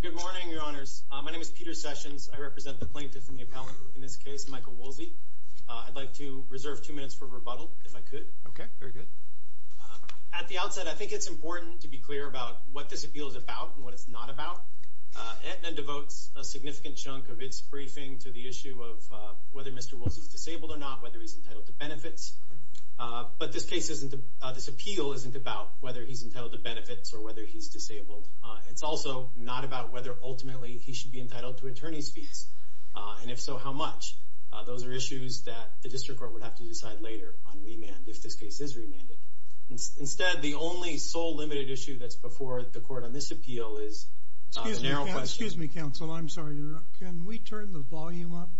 Good morning, your honors. My name is Peter Sessions. I represent the plaintiff and the appellant, in this case, Michael Woolsey. I'd like to reserve two minutes for rebuttal, if I could. Okay, very good. At the outset, I think it's important to be clear about what this appeal is about and what it's not about. Aetna devotes a significant chunk of its briefing to the issue of whether Mr. Woolsey is disabled or not, whether he's entitled to benefits. But this appeal isn't about whether he's entitled to benefits or whether he's disabled. It's also not about whether, ultimately, he should be entitled to attorney's fees. And if so, how much? Those are issues that the district court would have to decide later on remand, if this case is remanded. Instead, the only sole limited issue that's before the court on this appeal is a narrow question. Excuse me, counsel. I'm sorry to interrupt. Can we turn the volume up?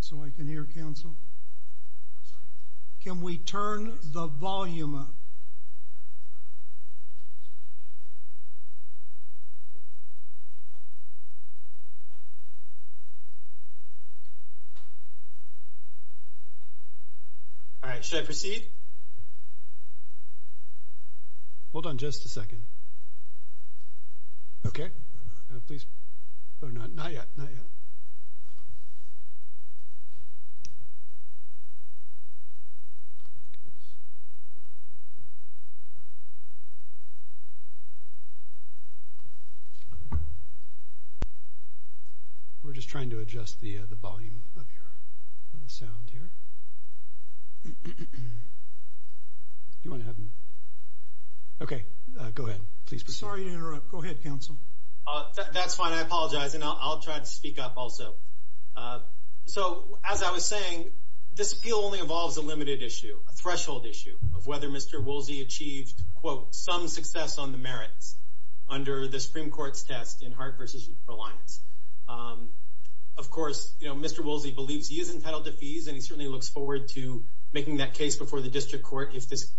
So I can hear counsel. Can we turn the volume up? All right, should I proceed? Hold on just a second. Okay. Oh, not yet, not yet. We're just trying to adjust the volume of the sound here. Okay, go ahead, please proceed. I'm sorry to interrupt. Go ahead, counsel. That's fine. I apologize, and I'll try to speak up also. So as I was saying, this appeal only involves a limited issue, a threshold issue, of whether Mr. Woolsey achieved, quote, some success on the merits under the Supreme Court's test in Hart v. Reliance. Of course, you know, Mr. Woolsey believes he is entitled to fees, and he certainly looks forward to making that case before the district court if this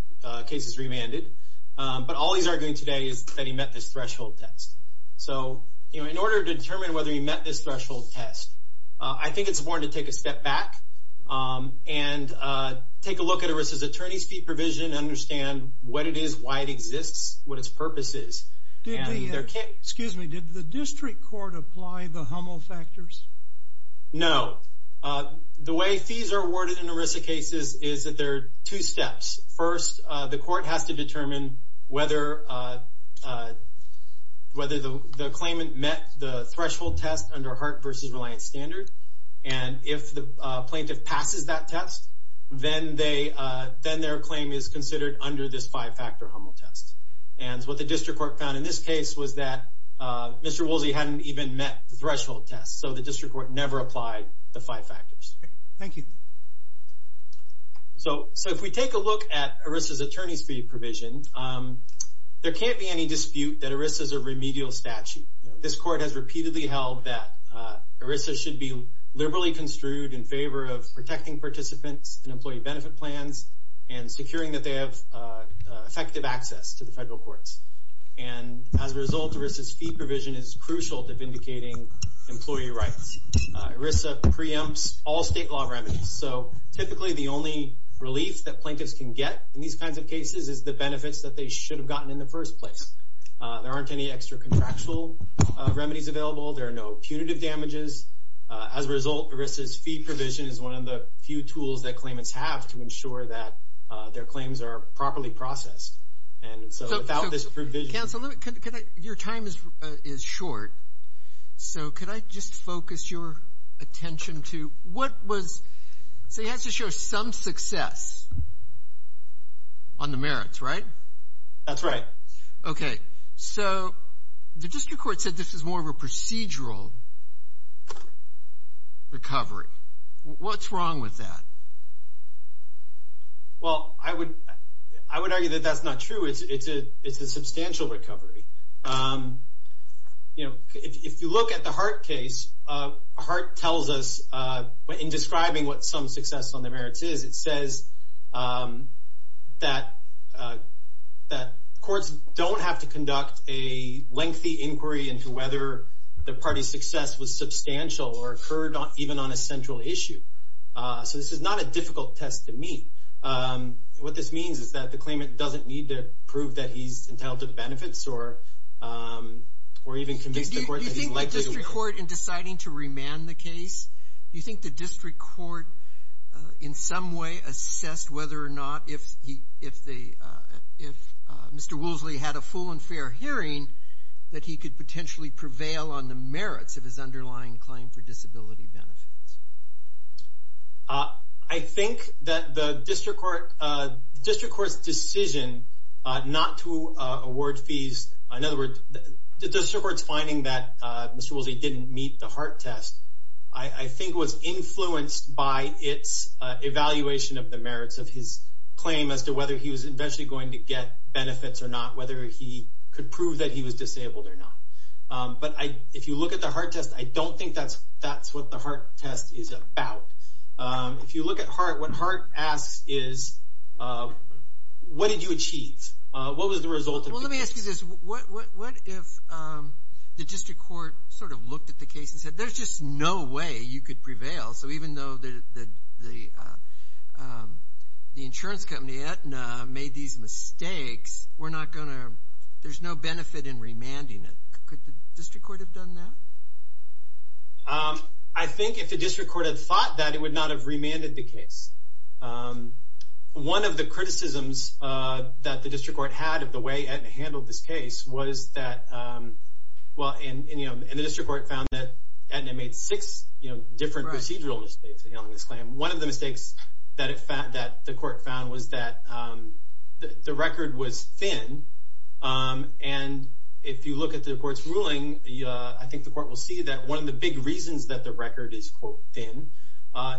case is remanded. But all he's arguing today is that he met this threshold test. So, you know, in order to determine whether he met this threshold test, I think it's important to take a step back and take a look at ERISA's attorney's fee provision and understand what it is, why it exists, what its purpose is. Excuse me, did the district court apply the Hummel factors? No. The way fees are awarded in ERISA cases is that there are two steps. First, the court has to determine whether the claimant met the threshold test under Hart v. Reliance standard. And if the plaintiff passes that test, then their claim is considered under this five-factor Hummel test. And what the district court found in this case was that Mr. Woolsey hadn't even met the threshold test, so the district court never applied the five factors. Thank you. So if we take a look at ERISA's attorney's fee provision, there can't be any dispute that ERISA is a remedial statute. This court has repeatedly held that ERISA should be liberally construed in favor of protecting participants in employee benefit plans and securing that they have effective access to the federal courts. And as a result, ERISA's fee provision is crucial to vindicating employee rights. ERISA preempts all state law remedies. So typically the only relief that plaintiffs can get in these kinds of cases is the benefits that they should have gotten in the first place. There aren't any extra contractual remedies available. There are no punitive damages. As a result, ERISA's fee provision is one of the few tools that claimants have to ensure that their claims are properly processed. So without this provision... Counsel, your time is short, so could I just focus your attention to what was... So he has to show some success on the merits, right? That's right. Okay. So the district court said this is more of a procedural recovery. What's wrong with that? Well, I would argue that that's not true. It's a substantial recovery. You know, if you look at the Hart case, Hart tells us in describing what some success on the merits is, it says that courts don't have to conduct a lengthy inquiry into whether the party's success was substantial or occurred even on a central issue. So this is not a difficult test to meet. What this means is that the claimant doesn't need to prove that he's entitled to the benefits or even convince the court that he's likely... Do you think the district court in deciding to remand the case, do you think the district court in some way assessed whether or not if Mr. Woolsey had a full and fair hearing that he could potentially prevail on the merits of his underlying claim for disability benefits? I think that the district court's decision not to award fees, in other words, the district court's finding that Mr. Woolsey didn't meet the Hart test, I think was influenced by its evaluation of the merits of his claim as to whether he was eventually going to get benefits or not, whether he could prove that he was disabled or not. But if you look at the Hart test, I don't think that's what the Hart test is about. If you look at Hart, what Hart asks is, what did you achieve? What was the result? Well, let me ask you this. What if the district court sort of looked at the case and said, there's just no way you could prevail. So even though the insurance company, Aetna, made these mistakes, we're not going to – there's no benefit in remanding it. Could the district court have done that? I think if the district court had thought that, it would not have remanded the case. One of the criticisms that the district court had of the way Aetna handled this case was that – well, and the district court found that Aetna made six different procedural mistakes in handling this claim. One of the mistakes that the court found was that the record was thin. And if you look at the court's ruling, I think the court will see that one of the big reasons that the record is, quote, thin,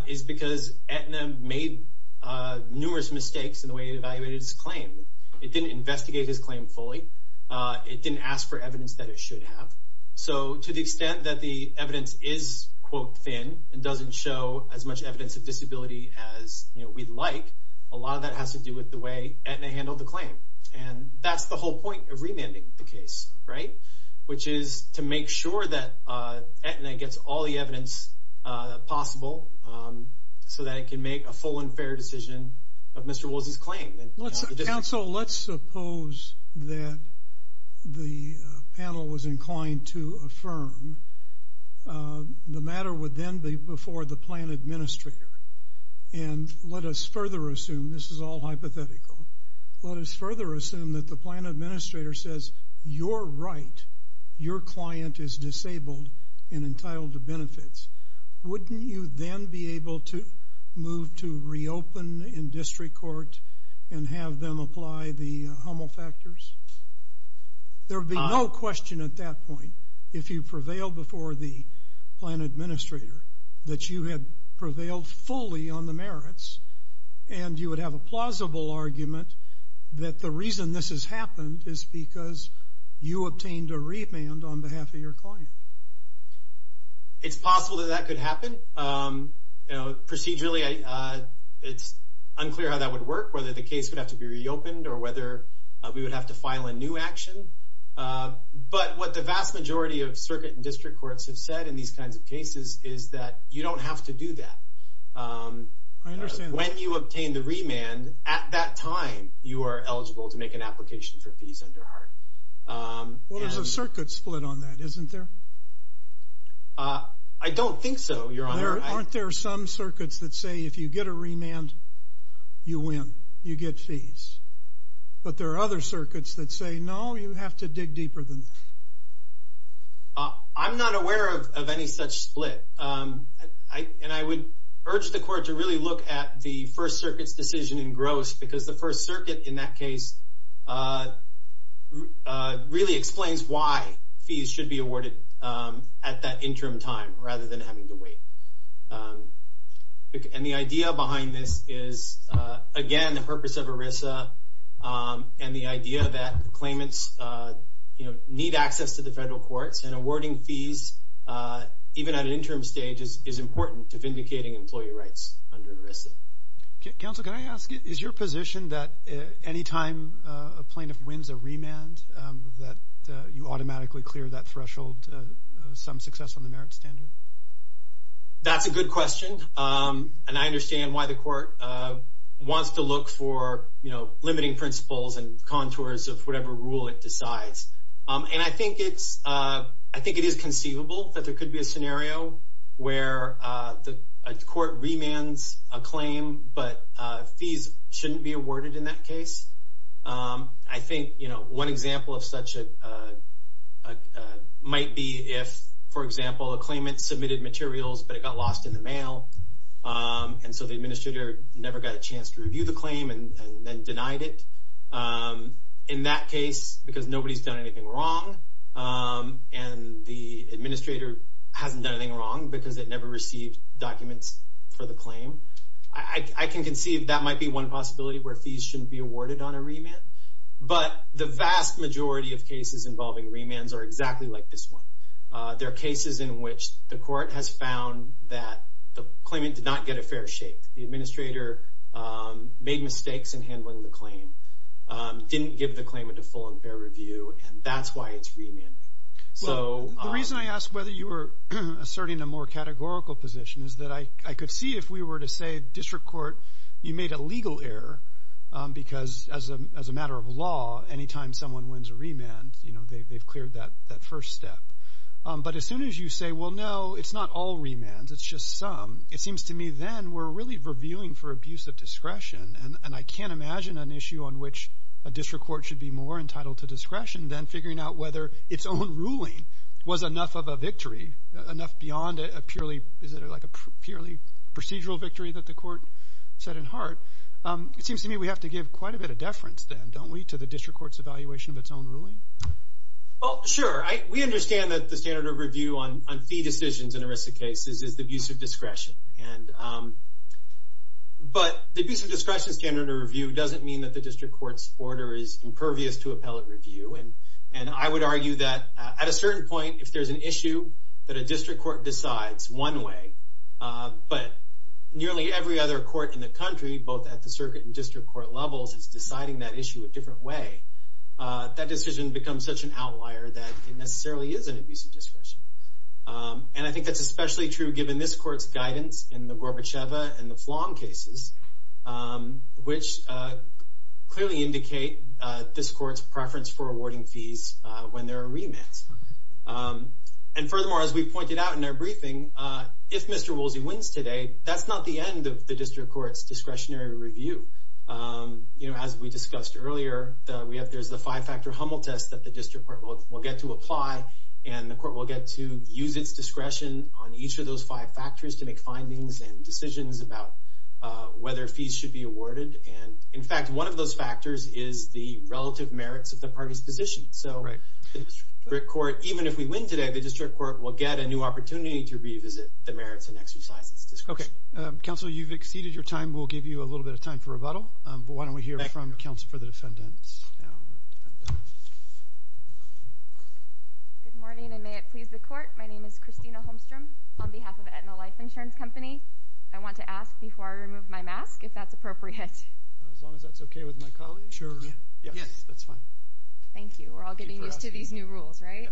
is because Aetna made numerous mistakes in the way it evaluated his claim. It didn't investigate his claim fully. It didn't ask for evidence that it should have. So to the extent that the evidence is, quote, thin and doesn't show as much evidence of disability as we'd like, a lot of that has to do with the way Aetna handled the claim. And that's the whole point of remanding the case, right? Which is to make sure that Aetna gets all the evidence possible so that it can make a full and fair decision of Mr. Woolsey's claim. Let's – counsel, let's suppose that the panel was inclined to affirm. The matter would then be before the plan administrator. And let us further assume – this is all hypothetical – let us further assume that the plan administrator says, you're right, your client is disabled and entitled to benefits. Wouldn't you then be able to move to reopen in district court and have them apply the Hummel factors? There would be no question at that point, if you prevailed before the plan administrator, that you had prevailed fully on the merits. And you would have a plausible argument that the reason this has happened is because you obtained a remand on behalf of your client. It's possible that that could happen. Procedurally, it's unclear how that would work, whether the case would have to be reopened or whether we would have to file a new action. But what the vast majority of circuit and district courts have said in these kinds of cases is that you don't have to do that. I understand that. When you obtain the remand, at that time, you are eligible to make an application for fees under HART. Well, there's a circuit split on that, isn't there? I don't think so, Your Honor. Aren't there some circuits that say if you get a remand, you win, you get fees? But there are other circuits that say, no, you have to dig deeper than that. I'm not aware of any such split. And I would urge the court to really look at the First Circuit's decision in gross because the First Circuit, in that case, really explains why fees should be awarded at that interim time rather than having to wait. And the idea behind this is, again, the purpose of ERISA and the idea that the claimants need access to the federal courts. And awarding fees, even at an interim stage, is important to vindicating employee rights under ERISA. Counsel, can I ask, is your position that any time a plaintiff wins a remand, that you automatically clear that threshold, some success on the merit standard? That's a good question. And I understand why the court wants to look for, you know, limiting principles and contours of whatever rule it decides. And I think it is conceivable that there could be a scenario where a court remands a claim, but fees shouldn't be awarded in that case. I think, you know, one example of such might be if, for example, a claimant submitted materials, but it got lost in the mail. And so the administrator never got a chance to review the claim and then denied it. In that case, because nobody's done anything wrong, and the administrator hasn't done anything wrong because it never received documents for the claim, I can conceive that might be one possibility where fees shouldn't be awarded on a remand. But the vast majority of cases involving remands are exactly like this one. There are cases in which the court has found that the claimant did not get a fair shake. The administrator made mistakes in handling the claim, didn't give the claimant a full and fair review, and that's why it's remanding. So... Well, the reason I asked whether you were asserting a more categorical position is that I could see if we were to say, District Court, you made a legal error, because as a matter of law, anytime someone wins a remand, you know, they've cleared that first step. But as soon as you say, well, no, it's not all remands, it's just some, it seems to me then we're really reviewing for abuse of discretion, and I can't imagine an issue on which a district court should be more entitled to discretion than figuring out whether its own ruling was enough of a victory, enough beyond a purely, is it like a purely procedural victory that the court set in heart? It seems to me we have to give quite a bit of deference then, don't we, to the district court's evaluation of its own ruling? Well, sure. We understand that the standard of review on fee decisions in a risk of case is the abuse of discretion. But the abuse of discretion standard of review doesn't mean that the district court's order is impervious to appellate review. And I would argue that at a certain point, if there's an issue that a district court decides one way, but nearly every other court in the country, both at the circuit and district court levels, is deciding that issue a different way, that decision becomes such an outlier that it necessarily is an abuse of discretion. And I think that's especially true given this court's guidance in the Gorbacheva and the Flom cases, which clearly indicate this court's preference for awarding fees when there are remands. And furthermore, as we pointed out in our briefing, if Mr. Woolsey wins today, that's not the end of the district court's discretionary review. As we discussed earlier, there's the five-factor Hummel test that the district court will get to apply, and the court will get to use its discretion on each of those five factors to make findings and decisions about whether fees should be awarded. And, in fact, one of those factors is the relative merits of the party's position. So the district court, even if we win today, the district court will get a new opportunity to revisit the merits and exercise its discretion. Okay. Counsel, you've exceeded your time. We'll give you a little bit of time for rebuttal. But why don't we hear from counsel for the defendants. Good morning, and may it please the court. My name is Christina Holmstrom on behalf of Aetna Life Insurance Company. I want to ask before I remove my mask if that's appropriate. As long as that's okay with my colleague. Sure. Yes, that's fine. Thank you. We're all getting used to these new rules, right?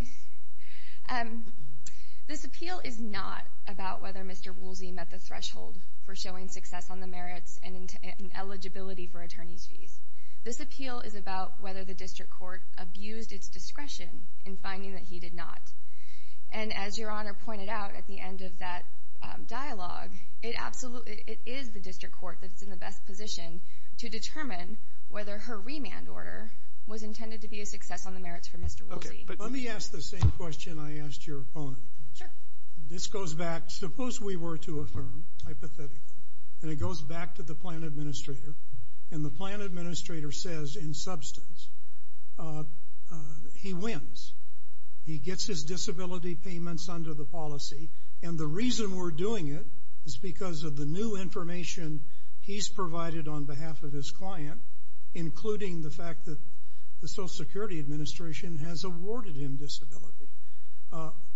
This appeal is not about whether Mr. Woolsey met the threshold for showing success on the merits and eligibility for attorney's fees. This appeal is about whether the district court abused its discretion in finding that he did not. And as Your Honor pointed out at the end of that dialogue, it is the district court that's in the best position to determine whether her remand order was intended to be a success on the merits for Mr. Woolsey. Let me ask the same question I asked your opponent. Sure. This goes back, suppose we were to affirm, hypothetically, and it goes back to the plan administrator, and the plan administrator says in substance, he wins. He gets his disability payments under the policy, and the reason we're doing it is because of the new information he's provided on behalf of his client, including the fact that the Social Security Administration has awarded him disability.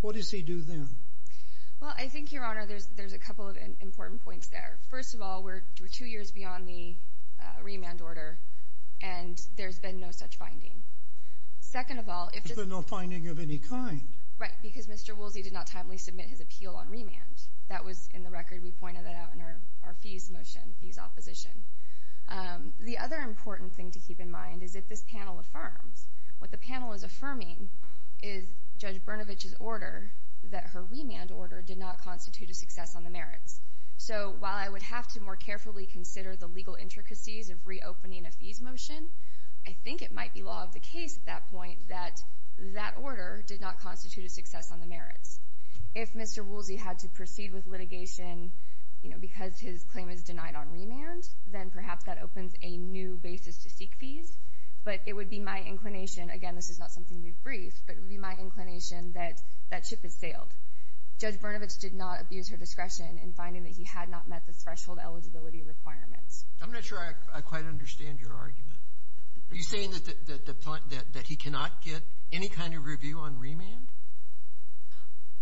What does he do then? Well, I think, Your Honor, there's a couple of important points there. First of all, we're two years beyond the remand order, and there's been no such finding. Second of all, if there's been no finding of any kind. Right, because Mr. Woolsey did not timely submit his appeal on remand. That was in the record. We pointed that out in our fees motion, fees opposition. The other important thing to keep in mind is that this panel affirms. What the panel is affirming is Judge Brnovich's order, that her remand order, did not constitute a success on the merits. So while I would have to more carefully consider the legal intricacies of reopening a fees motion, I think it might be law of the case at that point that that order did not constitute a success on the merits. If Mr. Woolsey had to proceed with litigation because his claim is denied on remand, then perhaps that opens a new basis to seek fees. But it would be my inclination, again, this is not something we've briefed, but it would be my inclination that that ship has sailed. Judge Brnovich did not abuse her discretion in finding that he had not met the threshold eligibility requirements. I'm not sure I quite understand your argument. Are you saying that he cannot get any kind of review on remand?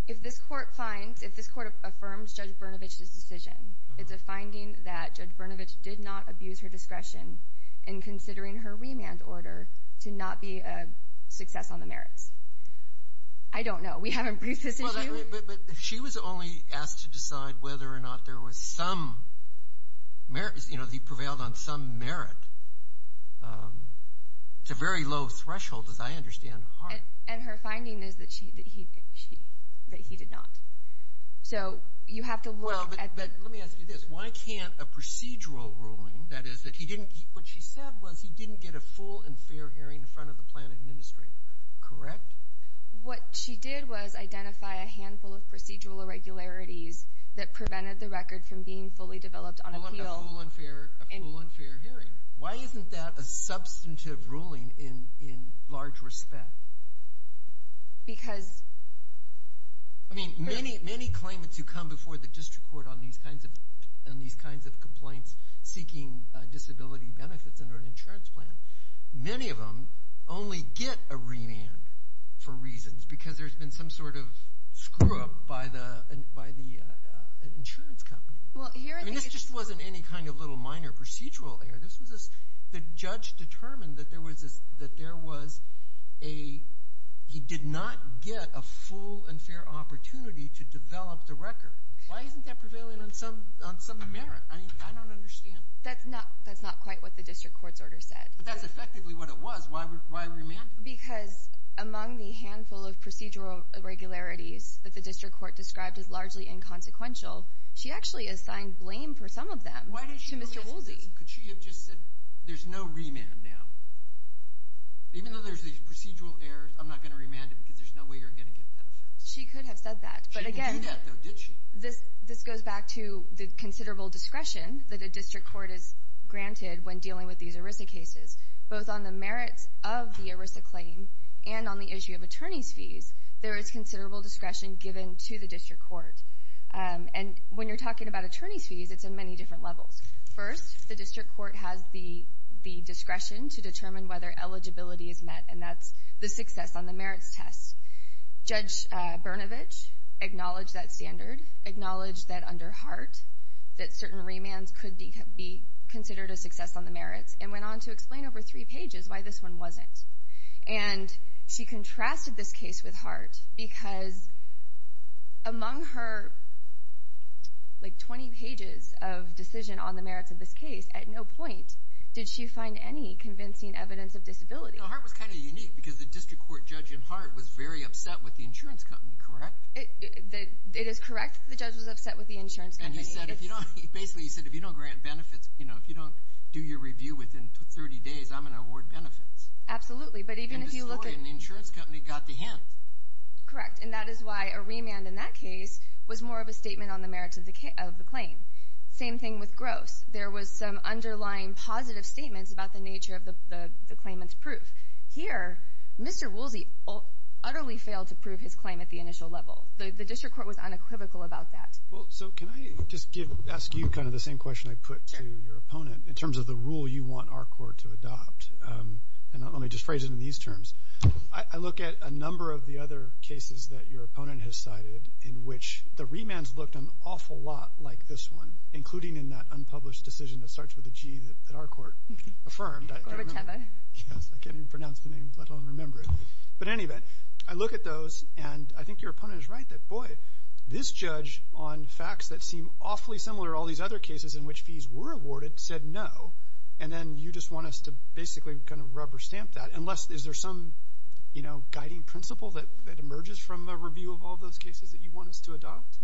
If this court finds, if this court affirms Judge Brnovich's decision, it's a finding that Judge Brnovich did not abuse her discretion in considering her remand order to not be a success on the merits. I don't know. We haven't briefed this issue. But she was only asked to decide whether or not there was some merits, you know, he prevailed on some merit. It's a very low threshold, as I understand. And her finding is that he did not. So you have to look at – Well, but let me ask you this. Why can't a procedural ruling, that is, that he didn't – what she said was he didn't get a full and fair hearing in front of the plan administrator, correct? What she did was identify a handful of procedural irregularities that prevented the record from being fully developed on appeal. A full and fair hearing. Why isn't that a substantive ruling in large respect? Because – I mean, many claimants who come before the district court on these kinds of complaints seeking disability benefits under an insurance plan, many of them only get a remand for reasons because there's been some sort of screw-up by the insurance company. I mean, this just wasn't any kind of little minor procedural error. This was – the judge determined that there was a – he did not get a full and fair opportunity to develop the record. Why isn't that prevailing on some merit? I don't understand. That's not quite what the district court's order said. But that's effectively what it was. Why a remand? Because among the handful of procedural irregularities that the district court described as largely inconsequential, she actually assigned blame for some of them to Mr. Woolsey. Could she have just said, there's no remand now? Even though there's these procedural errors, I'm not going to remand it because there's no way you're going to get benefits. She could have said that. She didn't do that, though, did she? This goes back to the considerable discretion that a district court is granted when dealing with these ERISA cases. Both on the merits of the ERISA claim and on the issue of attorney's fees, there is considerable discretion given to the district court. And when you're talking about attorney's fees, it's in many different levels. First, the district court has the discretion to determine whether eligibility is met, and that's the success on the merits test. Judge Brnovich acknowledged that standard, acknowledged that under Hart that certain remands could be considered a success on the merits, and went on to explain over three pages why this one wasn't. And she contrasted this case with Hart because among her 20 pages of decision on the merits of this case, at no point did she find any convincing evidence of disability. Hart was kind of unique because the district court judge in Hart was very upset with the insurance company, correct? It is correct that the judge was upset with the insurance company. And he basically said, if you don't grant benefits, if you don't do your review within 30 days, I'm going to award benefits. Absolutely, but even if you look at it. And the insurance company got the hint. Correct, and that is why a remand in that case was more of a statement on the merits of the claim. Same thing with gross. There was some underlying positive statements about the nature of the claimant's proof. Here, Mr. Woolsey utterly failed to prove his claim at the initial level. The district court was unequivocal about that. Well, so can I just ask you kind of the same question I put to your opponent in terms of the rule you want our court to adopt? And let me just phrase it in these terms. I look at a number of the other cases that your opponent has cited in which the remands looked an awful lot like this one, including in that unpublished decision that starts with a G that our court affirmed. Gorbachev. Yes, I can't even pronounce the name. I don't remember it. But in any event, I look at those, and I think your opponent is right that, boy, this judge on facts that seem awfully similar to all these other cases in which fees were awarded said no, and then you just want us to basically kind of rubber stamp that. Unless is there some, you know, guiding principle that emerges from a review of all those cases that you want us to adopt?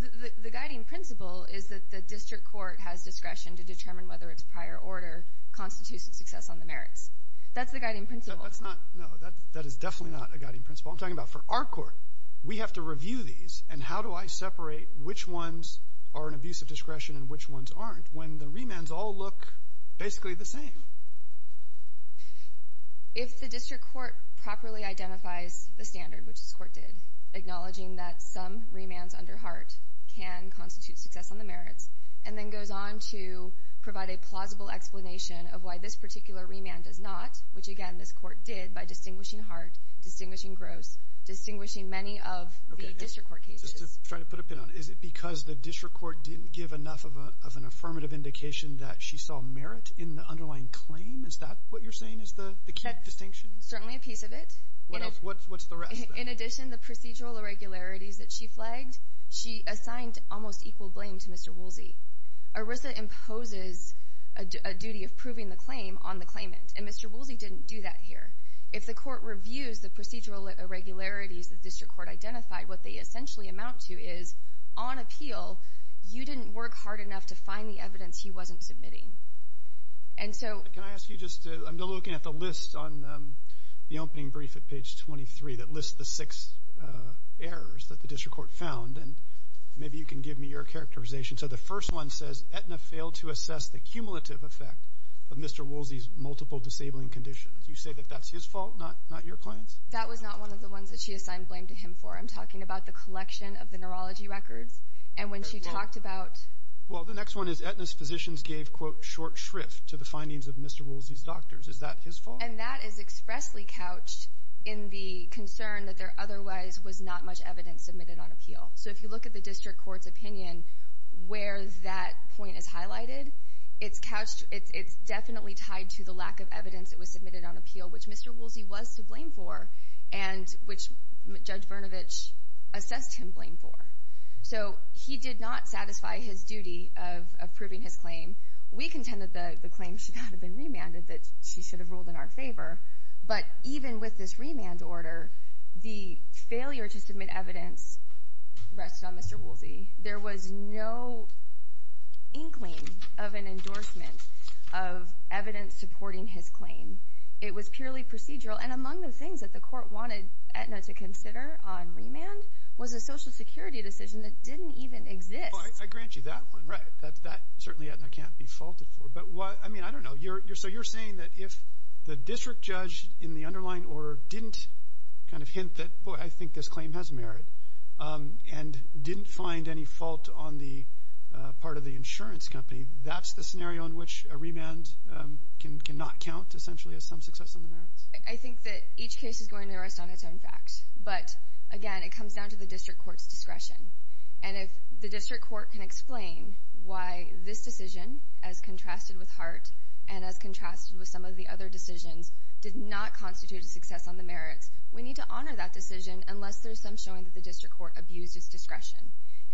The guiding principle is that the district court has discretion to determine whether its prior order constitutes a success on the merits. That's the guiding principle. No, that is definitely not a guiding principle. I'm talking about for our court. We have to review these, and how do I separate which ones are an abuse of discretion and which ones aren't, when the remands all look basically the same? If the district court properly identifies the standard, which this court did, acknowledging that some remands under HART can constitute success on the merits, and then goes on to provide a plausible explanation of why this particular remand does not, which, again, this court did by distinguishing HART, distinguishing GROSS, distinguishing many of the district court cases. Just to try to put a pin on it, is it because the district court didn't give enough of an affirmative indication that she saw merit in the underlying claim? Is that what you're saying is the key distinction? Certainly a piece of it. What else? What's the rest? In addition, the procedural irregularities that she flagged, she assigned almost equal blame to Mr. Woolsey. ERISA imposes a duty of proving the claim on the claimant, and Mr. Woolsey didn't do that here. If the court reviews the procedural irregularities the district court identified, what they essentially amount to is, on appeal, you didn't work hard enough to find the evidence he wasn't submitting. Can I ask you just to, I'm looking at the list on the opening brief at page 23 that lists the six errors that the district court found, and maybe you can give me your characterization. So the first one says, Aetna failed to assess the cumulative effect of Mr. Woolsey's multiple disabling conditions. You say that that's his fault, not your client's? That was not one of the ones that she assigned blame to him for. I'm talking about the collection of the neurology records, and when she talked about Well, the next one is Aetna's physicians gave, quote, short shrift to the findings of Mr. Woolsey's doctors. Is that his fault? And that is expressly couched in the concern that there otherwise was not much evidence submitted on appeal. So if you look at the district court's opinion, where that point is highlighted, it's definitely tied to the lack of evidence that was submitted on appeal, which Mr. Woolsey was to blame for, and which Judge Brnovich assessed him blame for. So he did not satisfy his duty of approving his claim. We contend that the claim should not have been remanded, that she should have ruled in our favor. But even with this remand order, the failure to submit evidence rested on Mr. Woolsey. There was no inkling of an endorsement of evidence supporting his claim. It was purely procedural. And among the things that the court wanted Aetna to consider on remand was a Social Security decision that didn't even exist. I grant you that one, right. That certainly Aetna can't be faulted for. But, I mean, I don't know. So you're saying that if the district judge in the underlying order didn't kind of hint that, boy, I think this claim has merit, and didn't find any fault on the part of the insurance company, that's the scenario in which a remand cannot count, essentially, as some success on the merits? I think that each case is going to rest on its own facts. But, again, it comes down to the district court's discretion. And if the district court can explain why this decision, as contrasted with Hart, and as contrasted with some of the other decisions, did not constitute a success on the merits, we need to honor that decision unless there's some showing that the district court abused its discretion.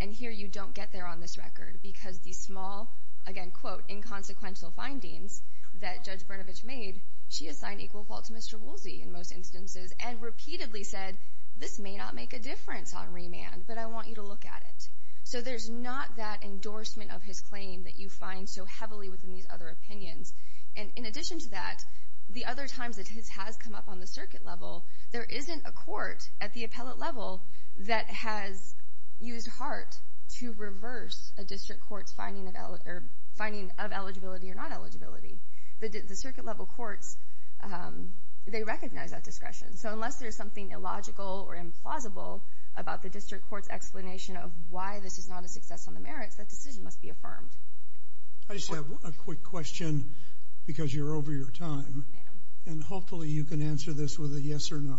And here you don't get there on this record, because these small, again, quote, inconsequential findings that Judge Brnovich made, she assigned equal fault to Mr. Woolsey in most instances, and repeatedly said, this may not make a difference on remand, but I want you to look at it. So there's not that endorsement of his claim that you find so heavily within these other opinions. And in addition to that, the other times that his has come up on the circuit level, there isn't a court at the appellate level that has used Hart to reverse a district court's finding of eligibility or non-eligibility. The circuit level courts, they recognize that discretion. So unless there's something illogical or implausible about the district court's explanation of why this is not a success on the merits, that decision must be affirmed. I just have a quick question, because you're over your time. And hopefully you can answer this with a yes or no.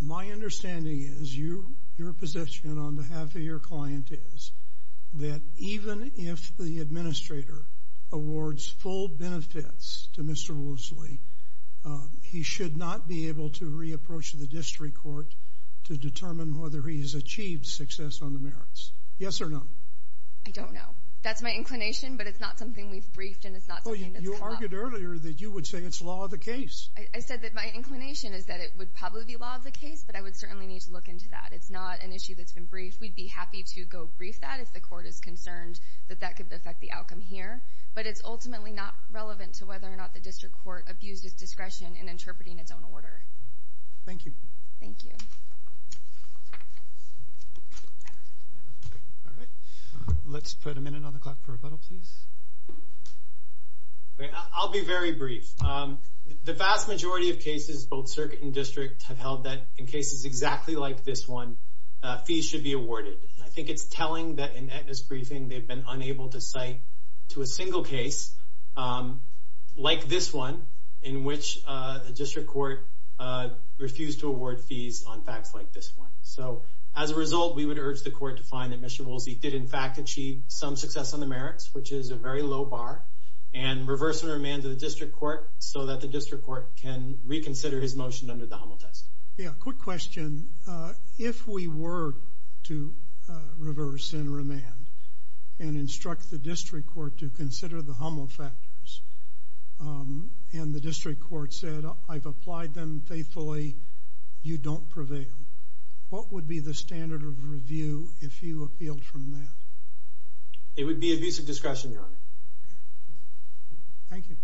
My understanding is, your position on behalf of your client is, that even if the administrator awards full benefits to Mr. Woolsey, he should not be able to re-approach the district court to determine whether he has achieved success on the merits. Yes or no? I don't know. That's my inclination, but it's not something we've briefed, and it's not something that's come up. Well, you argued earlier that you would say it's law of the case. I said that my inclination is that it would probably be law of the case, but I would certainly need to look into that. It's not an issue that's been briefed. We'd be happy to go brief that if the court is concerned that that could affect the outcome here. But it's ultimately not relevant to whether or not the district court abused its discretion in interpreting its own order. Thank you. Thank you. Let's put a minute on the clock for rebuttal, please. I'll be very brief. The vast majority of cases, both circuit and district, have held that in cases exactly like this one, fees should be awarded. I think it's telling that in Etna's briefing they've been unable to cite to a single case like this one in which the district court refused to award fees on facts like this one. So as a result, we would urge the court to find that Mr. Woolsey did, in fact, achieve some success on the merits, which is a very low bar, and reverse the remand of the district court so that the district court can reconsider his motion under the Hummel test. Yeah, quick question. If we were to reverse and remand and instruct the district court to consider the Hummel factors and the district court said, I've applied them faithfully, you don't prevail, what would be the standard of review if you appealed from that? It would be abuse of discretion, Your Honor. Thank you.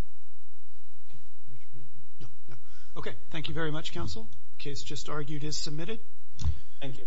Okay. Thank you very much, counsel. The case just argued is submitted. Thank you.